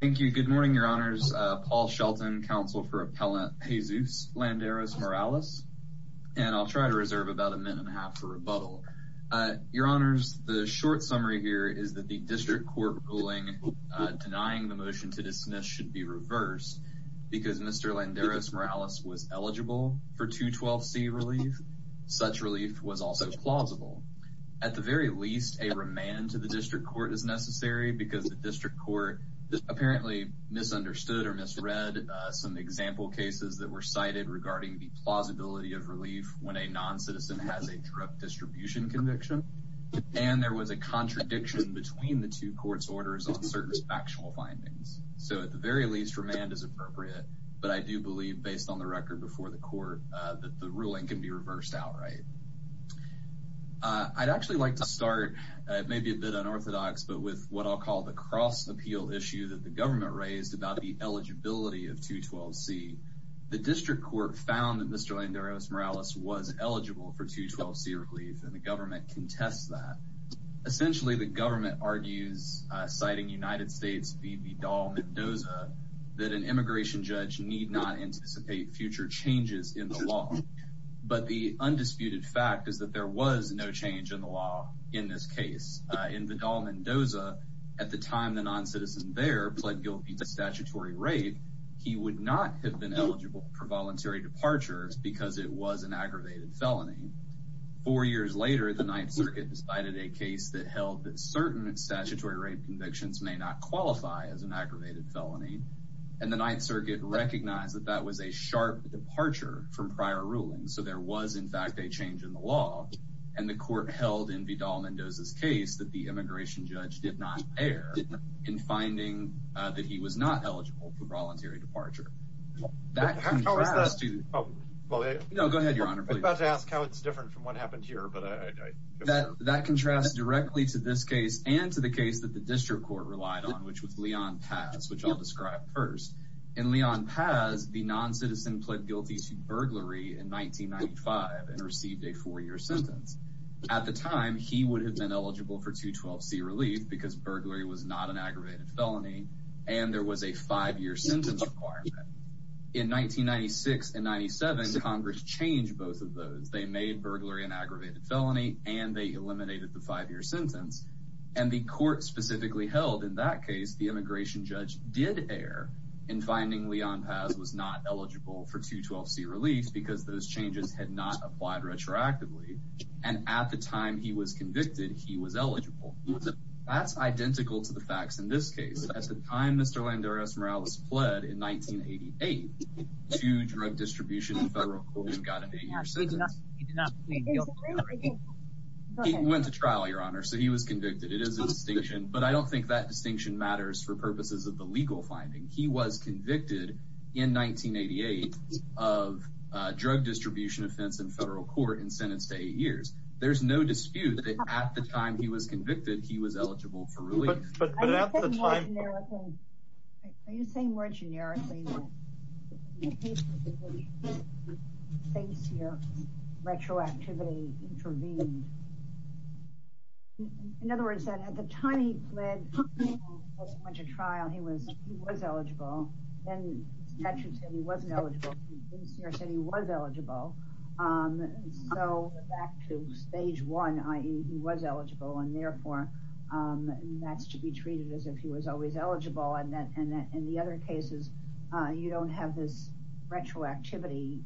Thank you. Good morning, Your Honors. Paul Shelton, Counsel for Appellant Jesus Landeros-Morales. And I'll try to reserve about a minute and a half for rebuttal. Your Honors, the short summary here is that the District Court ruling denying the motion to dismiss should be reversed because Mr. Landeros-Morales was eligible for 212C relief. Such relief was also plausible. At the very least, a remand to the District Court is necessary because the District Court apparently misunderstood or misread some example cases that were cited regarding the plausibility of relief when a non-citizen has a drug distribution conviction. And there was a contradiction between the two courts' orders on certain factional findings. So at the very least, remand is appropriate. But I do believe, based on the record before the court, that the ruling can be reversed outright. I'd actually like to start, it may be a bit unorthodox, but with what I'll call the cross-appeal issue that the government raised about the eligibility of 212C. The District Court found that Mr. Landeros-Morales was eligible for 212C relief, and the government contests that. Essentially, the government argues, citing United States v. Vidal-Mendoza, that an immigration judge need not anticipate future changes in the law. But the undisputed fact is that there was no change in the law in this case. In Vidal-Mendoza, at the time the non-citizen there pled guilty to statutory rape, he would not have been eligible for voluntary departure because it was an aggravated felony. Four years later, the Ninth Circuit decided a case that held that certain statutory rape convictions may not qualify as an aggravated felony. And the Ninth Circuit recognized that that was a sharp departure from prior rulings. So there was, in fact, a change in the law. And the court held in Vidal-Mendoza's case that the immigration judge did not err in finding that he was not eligible for voluntary departure. That contrasts to... No, go ahead, Your Honor. I was about to ask how it's different from what happened here. That contrasts directly to this case and to the case that the District Court relied on, which was Leon Paz, which I'll describe first. In Leon Paz, the non-citizen pled guilty to burglary in 1995 and received a four-year sentence. At the time, he would have been eligible for 212C relief because burglary was not an aggravated felony and there was a five-year sentence requirement. In 1996 and 1997, Congress changed both of those. They made burglary an aggravated felony and they eliminated the five-year sentence. And the court specifically held in that case the immigration judge did err in finding Leon Paz was not eligible for 212C relief because those changes had not applied retroactively. And at the time he was convicted, he was eligible. That's identical to the facts in this case. At the time Mr. Landoros Morales pled in 1988 to drug distribution in federal court, he got an eight-year sentence. He did not plead guilty. He went to trial, Your Honor, so he was convicted. It is a distinction, but I don't think that distinction matters for purposes of the legal finding. He was convicted in 1988 of drug distribution offense in federal court and sentenced to eight years. There's no dispute that at the time he was convicted, he was eligible for relief. But at the time... Are you saying more generically that in the case of the case here, retroactivity intervened? In other words, that at the time he pled guilty and went to trial, he was eligible. Then the statute said he wasn't eligible. The procedure said he was eligible. So back to stage one, i.e. he was eligible, and therefore that's to be treated as if he was always eligible. And in the other cases, you don't have this retroactivity.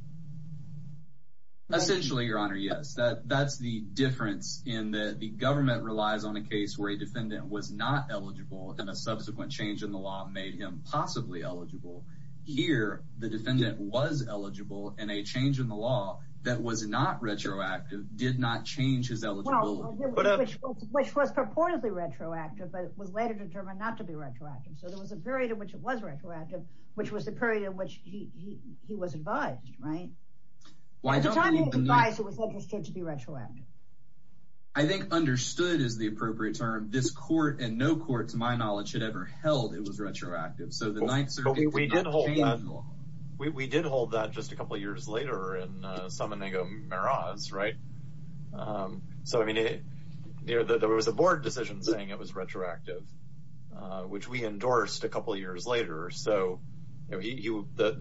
Essentially, Your Honor, yes. That's the difference in that the government relies on a case where a defendant was not eligible and a subsequent change in the law made him possibly eligible. Here, the defendant was eligible, and a change in the law that was not retroactive did not change his eligibility. Which was purportedly retroactive, but it was later determined not to be retroactive. So there was a period in which it was retroactive, which was the period in which he was advised, right? At the time he was advised, it was understood to be retroactive. I think understood is the appropriate term. This court, and no court to my knowledge, had ever held it was retroactive. So the Ninth Circuit did not change the law. We did hold that just a couple years later in Salmonego-Miraz, right? There was a board decision saying it was retroactive, which we endorsed a couple years later. I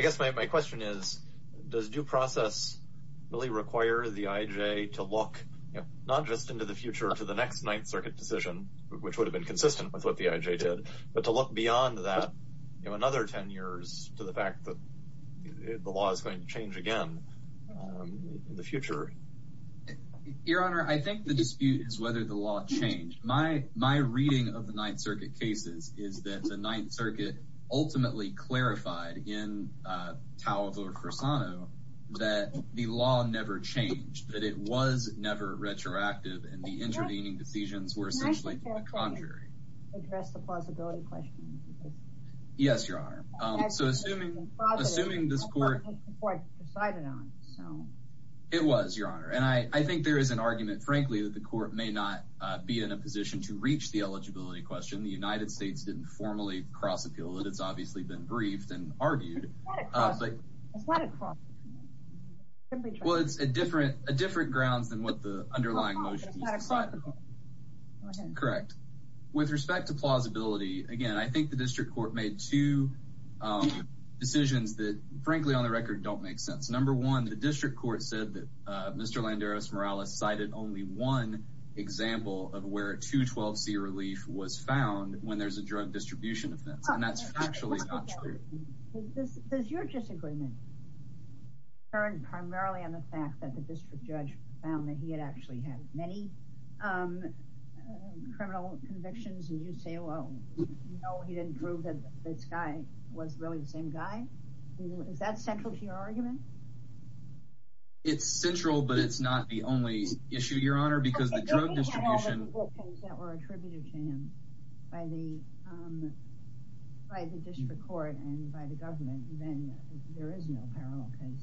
guess my question is, does due process really require the IJ to look not just into the future to the next Ninth Circuit decision, which would have been consistent with what the IJ did, but to look beyond that, you know, another ten years to the fact that the law is going to change again in the future? Your Honor, I think the dispute is whether the law changed. My reading of the Ninth Circuit cases is that the Ninth Circuit ultimately clarified in Tau of Ur-Fursano that the law never changed, that it was never retroactive. And the intervening decisions were essentially to the contrary. Yes, Your Honor. It was, Your Honor. And I think there is an argument, frankly, that the court may not be in a position to reach the eligibility question. The United States didn't formally cross-appeal it. It's obviously been briefed and argued. It's not a cross-appeal. Well, it's a different grounds than what the underlying motion is. It's not a cross-appeal. Correct. With respect to plausibility, again, I think the district court made two decisions that, frankly, on the record, don't make sense. Number one, the district court said that Mr. Landeros-Morales cited only one example of where a 212c relief was found when there's a drug distribution offense, and that's factually not true. Does your disagreement turn primarily on the fact that the district judge found that he had actually had many criminal convictions and you say, well, no, he didn't prove that this guy was really the same guy? Is that central to your argument? It's central, but it's not the only issue, Your Honor, because the drug distribution… …and by the government, then there is no parallel case.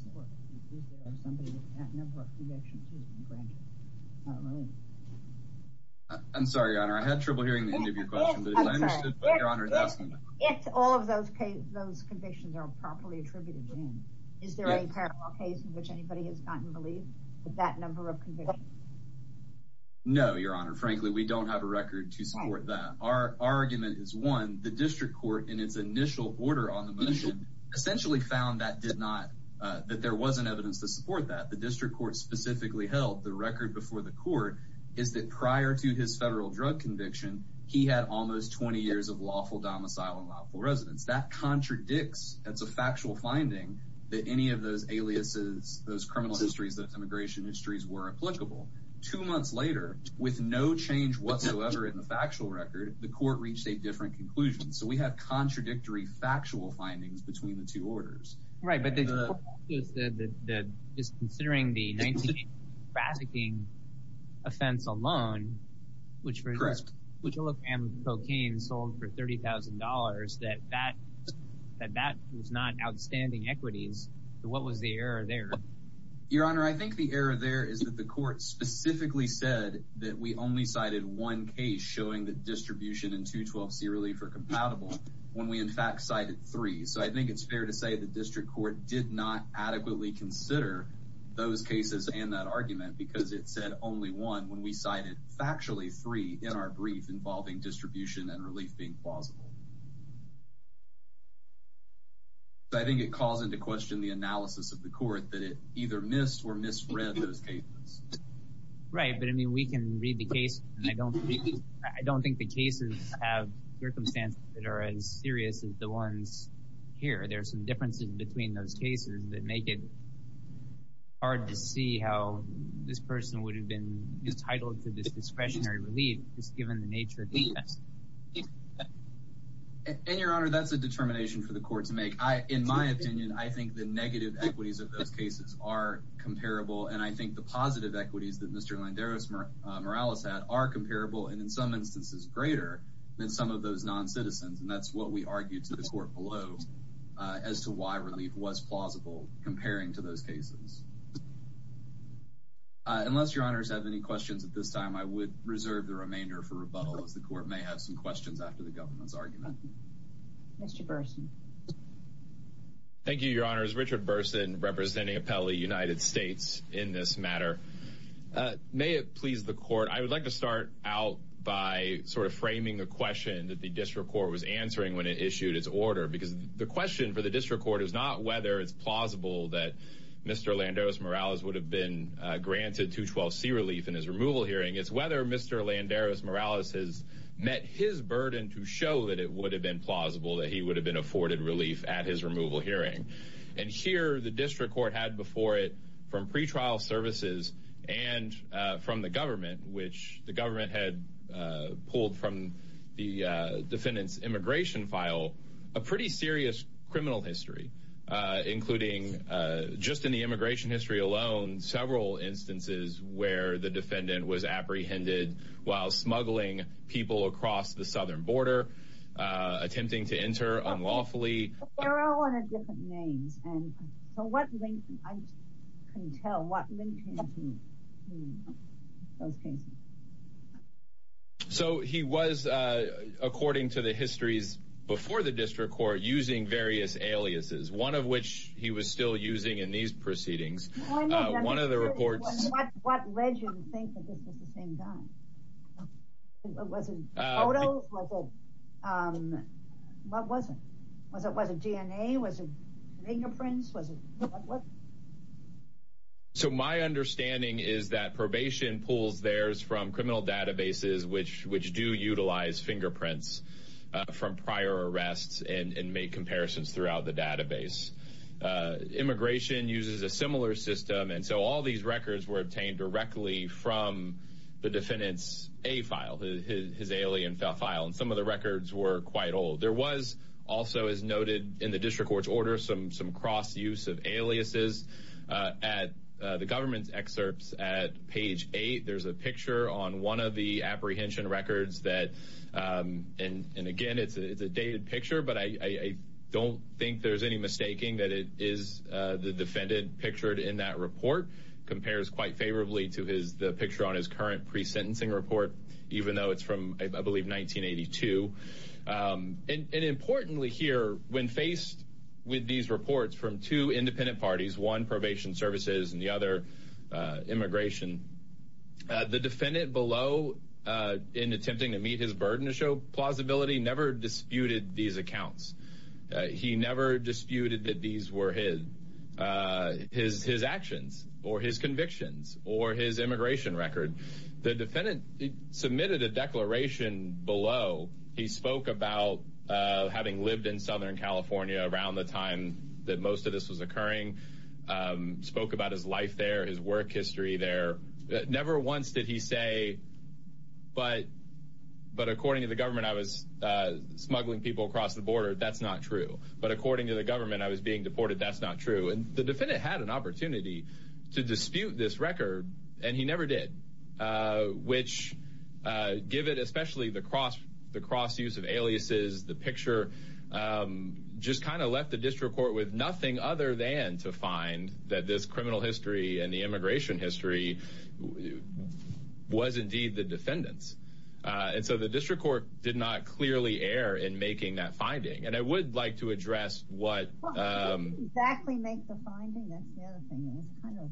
I'm sorry, Your Honor, I had trouble hearing the end of your question, but I understood what Your Honor is asking. If all of those convictions are properly attributed in, is there any parallel case in which anybody has gotten relief with that number of convictions? No, Your Honor. Frankly, we don't have a record to support that. Our argument is, one, the district court in its initial order on the motion essentially found that there wasn't evidence to support that. The district court specifically held the record before the court is that prior to his federal drug conviction, he had almost 20 years of lawful domicile and lawful residence. That contradicts, that's a factual finding, that any of those aliases, those criminal histories, those immigration histories were applicable. Two months later, with no change whatsoever in the factual record, the court reached a different conclusion. So we have contradictory factual findings between the two orders. Right, but the court also said that just considering the 1988 trafficking offense alone, which, for example, Jellicle and cocaine sold for $30,000, that that was not outstanding equities. What was the error there? Your Honor, I think the error there is that the court specifically said that we only cited one case showing that distribution and 212c relief are compatible when we in fact cited three. So I think it's fair to say the district court did not adequately consider those cases and that argument because it said only one when we cited factually three in our brief involving distribution and relief being plausible. I think it calls into question the analysis of the court that it either missed or misread those cases. Right, but I mean, we can read the case and I don't think the cases have circumstances that are as serious as the ones here. There are some differences between those cases that make it hard to see how this person would have been entitled to this discretionary relief, just given the nature of the offense. And, Your Honor, that's a determination for the court to make. In my opinion, I think the negative equities of those cases are comparable, and I think the positive equities that Mr. Landeros-Morales had are comparable, and in some instances greater than some of those non-citizens. And that's what we argued to the court below as to why relief was plausible comparing to those cases. Unless Your Honors have any questions at this time, I would reserve the remainder for rebuttal, as the court may have some questions after the government's argument. Mr. Burson. Thank you, Your Honors. Richard Burson, representing Apelli United States in this matter. May it please the court, I would like to start out by sort of framing the question that the district court was answering when it issued its order, because the question for the district court is not whether it's plausible that Mr. Landeros-Morales would have been granted 212C relief in his removal hearing. It's whether Mr. Landeros-Morales has met his burden to show that it would have been plausible that he would have been afforded relief at his removal hearing. And here, the district court had before it, from pretrial services and from the government, which the government had pulled from the defendant's immigration file, a pretty serious criminal history, including just in the immigration history alone, several instances where the defendant was apprehended while smuggling people across the southern border, attempting to enter unlawfully. But they're all under different names, and so what link, I just couldn't tell what link came to those cases. So he was, according to the histories before the district court, using various aliases, one of which he was still using in these proceedings. One of the reports... What led you to think that this was the same guy? Was it photos? Was it... What was it? Was it DNA? Was it fingerprints? Was it... So my understanding is that probation pulls theirs from criminal databases, which do utilize fingerprints from prior arrests and make comparisons throughout the database. Immigration uses a similar system, and so all these records were obtained directly from the defendant's A file, his alien file, and some of the records were quite old. There was also, as noted in the district court's order, some cross-use of aliases. At the government's excerpts at page 8, there's a picture on one of the apprehension records that... And again, it's a dated picture, but I don't think there's any mistaking that it is the defendant pictured in that report. It compares quite favorably to the picture on his current pre-sentencing report, even though it's from, I believe, 1982. And importantly here, when faced with these reports from two independent parties, one probation services and the other immigration, the defendant below, in attempting to meet his burden to show plausibility, never disputed these accounts. He never disputed that these were his actions or his convictions or his immigration record. The defendant submitted a declaration below. He spoke about having lived in Southern California around the time that most of this was occurring, spoke about his life there, his work history there. Never once did he say, but according to the government, I was smuggling people across the border. That's not true. But according to the government, I was being deported. That's not true. And the defendant had an opportunity to dispute this record, and he never did. Which, given especially the cross-use of aliases, the picture, just kind of left the district court with nothing other than to find that this criminal history and the immigration history was indeed the defendant's. And so the district court did not clearly err in making that finding. And I would like to address what... Well, it didn't exactly make the finding. That's the other thing. It was kind of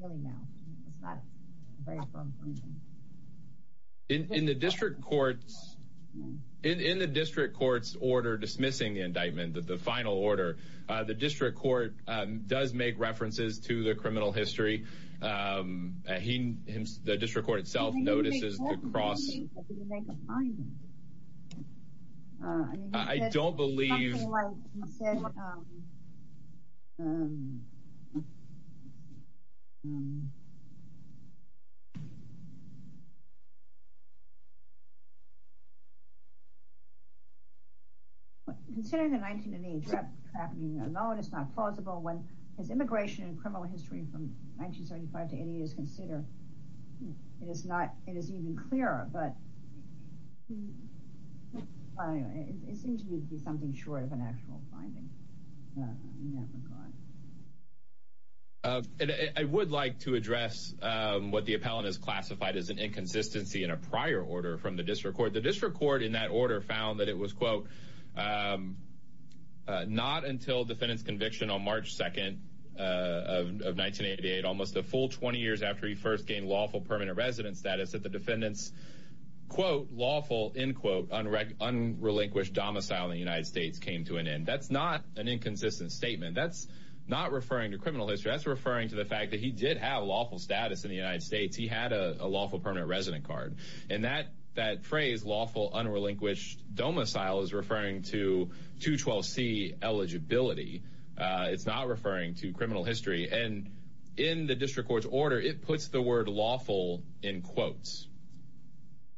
really now. It's not a very firm finding. In the district court's order dismissing the indictment, the final order, the district court does make references to the criminal history. The district court itself notices the cross... I don't believe... Considering the 1908 trap happening alone, it's not plausible. When his immigration and criminal history from 1975 to 1980 is considered, it is even clearer. But it seems to me to be something short of an actual finding in that regard. I would like to address what the appellant has classified as an inconsistency in a prior order from the district court. The district court in that order found that it was, quote, not until defendant's conviction on March 2nd of 1988, almost a full 20 years after he first gained lawful permanent resident status, that the defendant's, quote, lawful, end quote, unrelinquished domicile in the United States came to an end. That's not an inconsistent statement. That's not referring to criminal history. That's referring to the fact that he did have lawful status in the United States. He had a lawful permanent resident card. And that phrase, lawful, unrelinquished domicile, is referring to 212C eligibility. It's not referring to criminal history. And in the district court's order, it puts the word lawful in quotes.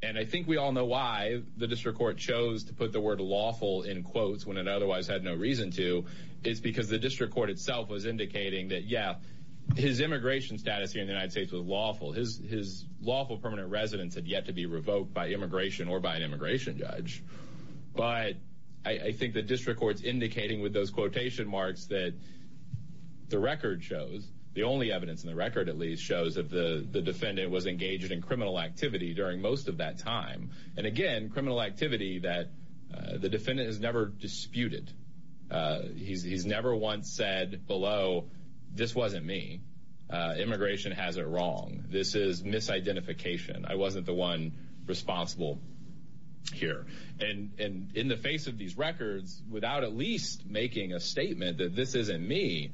And I think we all know why the district court chose to put the word lawful in quotes when it otherwise had no reason to. It's because the district court itself was indicating that, yeah, his immigration status here in the United States was lawful. His lawful permanent residence had yet to be revoked by immigration or by an immigration judge. But I think the district court's indicating with those quotation marks that the record shows, the only evidence in the record, at least, shows that the defendant was engaged in criminal activity during most of that time. And, again, criminal activity that the defendant has never disputed. He's never once said below, this wasn't me. Immigration has it wrong. This is misidentification. I wasn't the one responsible here. And in the face of these records, without at least making a statement that this isn't me,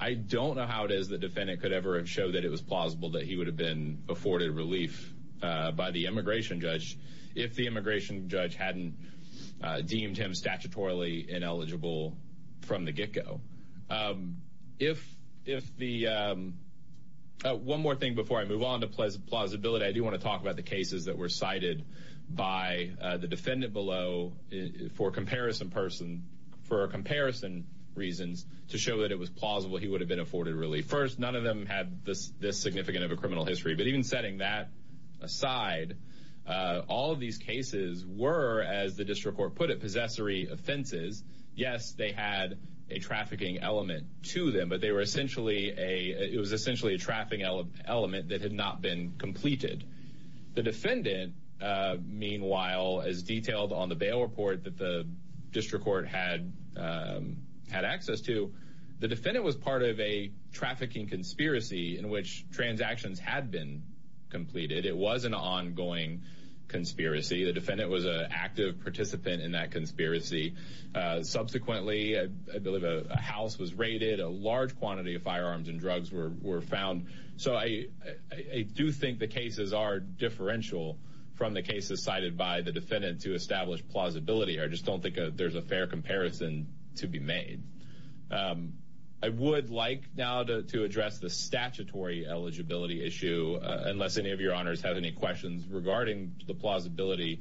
I don't know how it is the defendant could ever have showed that it was plausible that he would have been afforded relief by the immigration judge if the immigration judge hadn't deemed him statutorily ineligible from the get-go. One more thing before I move on to plausibility, I do want to talk about the cases that were cited by the defendant below for comparison reasons to show that it was plausible he would have been afforded relief. First, none of them had this significant of a criminal history. But even setting that aside, all of these cases were, as the district court put it, possessory offenses. Yes, they had a trafficking element to them, but it was essentially a trafficking element that had not been completed. The defendant, meanwhile, as detailed on the bail report that the district court had access to, the defendant was part of a trafficking conspiracy in which transactions had been completed. It was an ongoing conspiracy. The defendant was an active participant in that conspiracy. Subsequently, I believe a house was raided. A large quantity of firearms and drugs were found. So I do think the cases are differential from the cases cited by the defendant to establish plausibility. I just don't think there's a fair comparison to be made. I would like now to address the statutory eligibility issue, unless any of your honors have any questions regarding the plausibility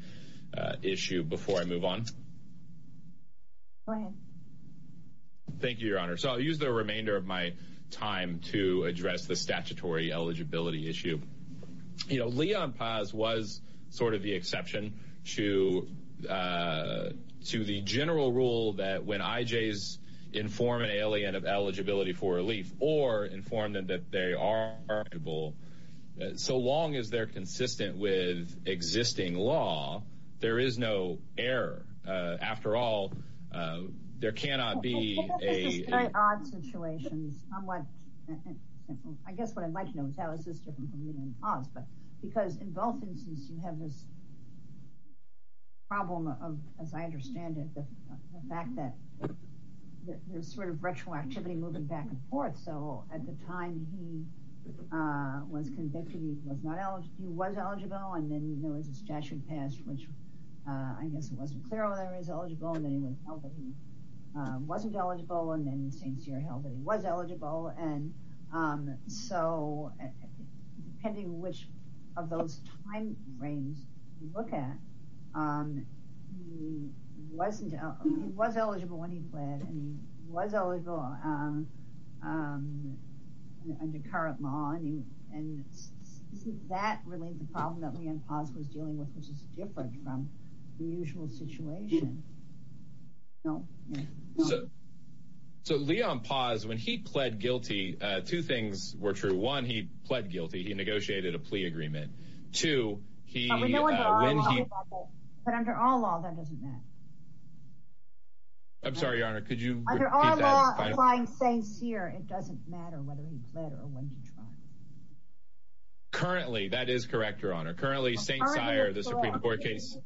issue before I move on. Go ahead. Thank you, Your Honor. So I'll use the remainder of my time to address the statutory eligibility issue. You know, Leon Paz was sort of the exception to the general rule that when IJs inform an alien of eligibility for relief or inform them that they are eligible, so long as they're consistent with existing law, there is no error. After all, there cannot be a- This is a very odd situation. It's somewhat, I guess what I'd like to know is how is this different from Leon Paz? Because in both instances, you have this problem of, as I understand it, the fact that there's sort of retroactivity moving back and forth. So at the time he was convicted, he was eligible, and then there was this statute passed, which I guess it wasn't clear whether he was eligible, and then he was held that he wasn't eligible, and then St. Cyr held that he was eligible. And so depending which of those time frames you look at, he was eligible when he pled, and he was eligible under current law. And isn't that really the problem that Leon Paz was dealing with, which is different from the usual situation? No? So Leon Paz, when he pled guilty, two things were true. One, he pled guilty. He negotiated a plea agreement. Two, he- But under our law, that doesn't matter. I'm sorry, Your Honor, could you repeat that? Under our law, applying St. Cyr, it doesn't matter whether he pled or when he tried. Currently, that is correct, Your Honor. Currently, St. Cyr, the Supreme Court case-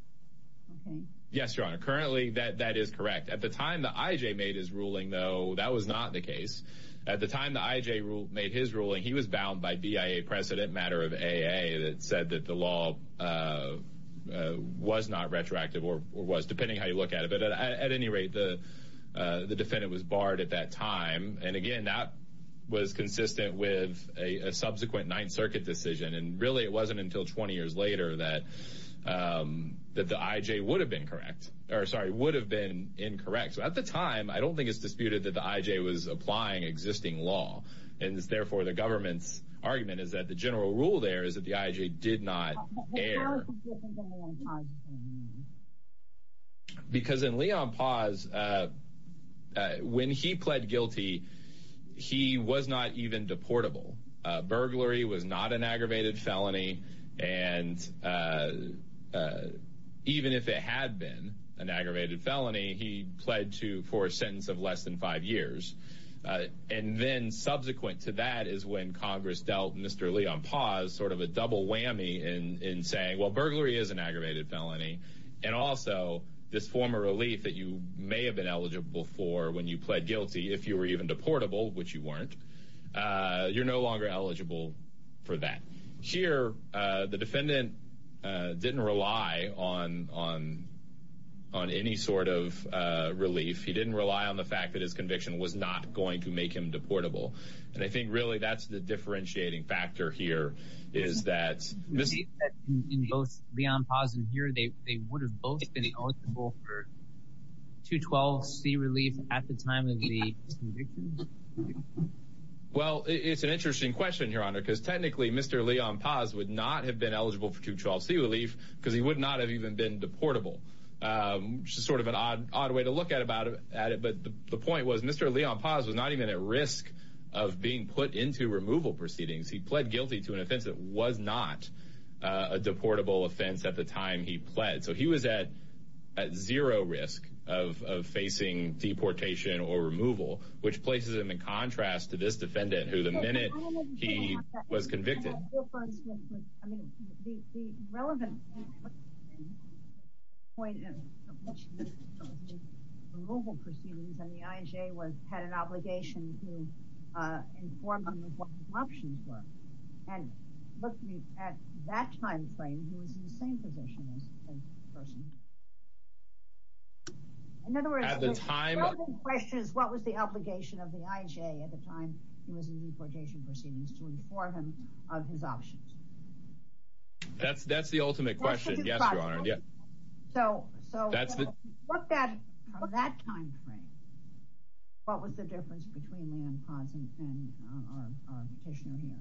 Okay. Yes, Your Honor. Currently, that is correct. At the time that I.J. made his ruling, though, that was not the case. At the time that I.J. made his ruling, he was bound by BIA precedent matter of AA that said that the law was not retroactive or was, depending how you look at it. But at any rate, the defendant was barred at that time. And again, that was consistent with a subsequent Ninth Circuit decision. And really, it wasn't until 20 years later that the I.J. would have been incorrect. At the time, I don't think it's disputed that the I.J. was applying existing law. And therefore, the government's argument is that the general rule there is that the I.J. did not err. But how is this different than Leon Paz's case? Because in Leon Paz, when he pled guilty, he was not even deportable. Burglary was not an aggravated felony. And even if it had been an aggravated felony, he pled for a sentence of less than five years. And then subsequent to that is when Congress dealt Mr. Leon Paz sort of a double whammy in saying, well, burglary is an aggravated felony. And also, this form of relief that you may have been eligible for when you pled guilty, if you were even deportable, which you weren't, you're no longer eligible for that. Here, the defendant didn't rely on any sort of relief. He didn't rely on the fact that his conviction was not going to make him deportable. And I think really that's the differentiating factor here is that in both Leon Paz and here, they would have both been eligible for 212C relief at the time of the conviction. Well, it's an interesting question, Your Honor, because technically Mr. Leon Paz would not have been eligible for 212C relief because he would not have even been deportable, which is sort of an odd way to look at it. But the point was Mr. Leon Paz was not even at risk of being put into removal proceedings. He pled guilty to an offense that was not a deportable offense at the time he pled. So he was at zero risk of facing deportation or removal, which places him in contrast to this defendant who the minute he was convicted. I mean, the relevant point in which the removal proceedings and the IJ had an obligation to inform him of what the options were. And looking at that time frame, he was in the same position as the person. In other words, the relevant question is what was the obligation of the IJ at the time he was in deportation proceedings to inform him of his options? That's the ultimate question. Yes, Your Honor. So from that time frame, what was the difference between Leon Paz and our petitioner here?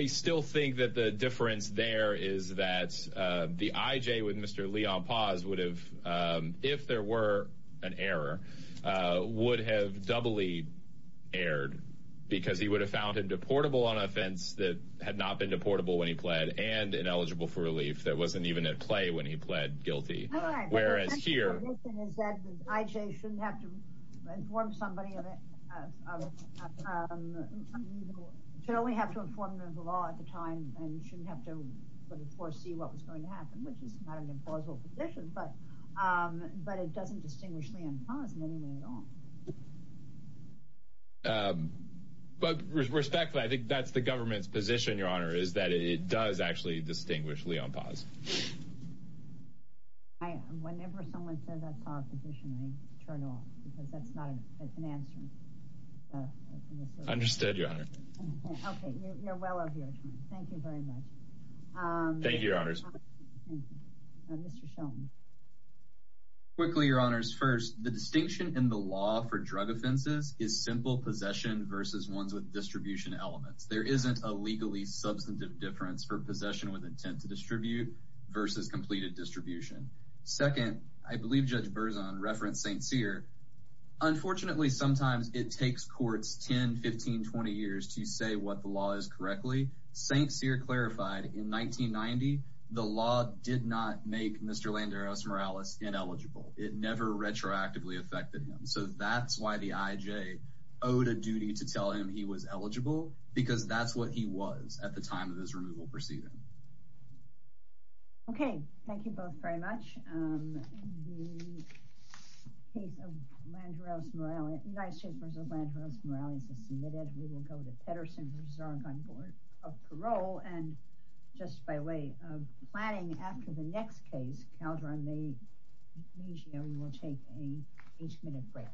I still think that the difference there is that the IJ with Mr. Leon Paz would have, if there were an error, would have doubly erred because he would have found a deportable on offense that had not been deportable when he pled and ineligible for relief that wasn't even at play when he pled guilty. All right. Thank you. Whereas here. The reason is that the IJ shouldn't have to inform somebody of it. You should only have to inform them of the law at the time and you shouldn't have to foresee what was going to happen, which is not an implausible position, but it doesn't distinguish Leon Paz in any way at all. But respectfully, I think that's the government's position, Your Honor, is that it does actually distinguish Leon Paz. Whenever someone says that's our petition, I turn off because that's not an answer. Understood, Your Honor. Okay. You're well of your time. Thank you very much. Thank you, Your Honors. Mr. Sheldon. Quickly, Your Honors. First, the distinction in the law for drug offenses is simple possession versus ones with distribution elements. There isn't a legally substantive difference for possession with intent to distribute versus completed distribution. Second, I believe Judge Berzon referenced St. Cyr. Unfortunately, sometimes it takes courts 10, 15, 20 years to say what the law is correctly. St. Cyr clarified in 1990 the law did not make Mr. Landeros-Morales ineligible. It never retroactively affected him. So that's why the IJ owed a duty to tell him he was eligible, because that's what he was at the time of his removal proceeding. Okay. Thank you both very much. The case of Landeros-Morales, United States v. Landeros-Morales is submitted. We will go to Pedersen, who is our gun board of parole. And just by way of planning, after the next case, Calderon v. Maggio, we will take an eight-minute break.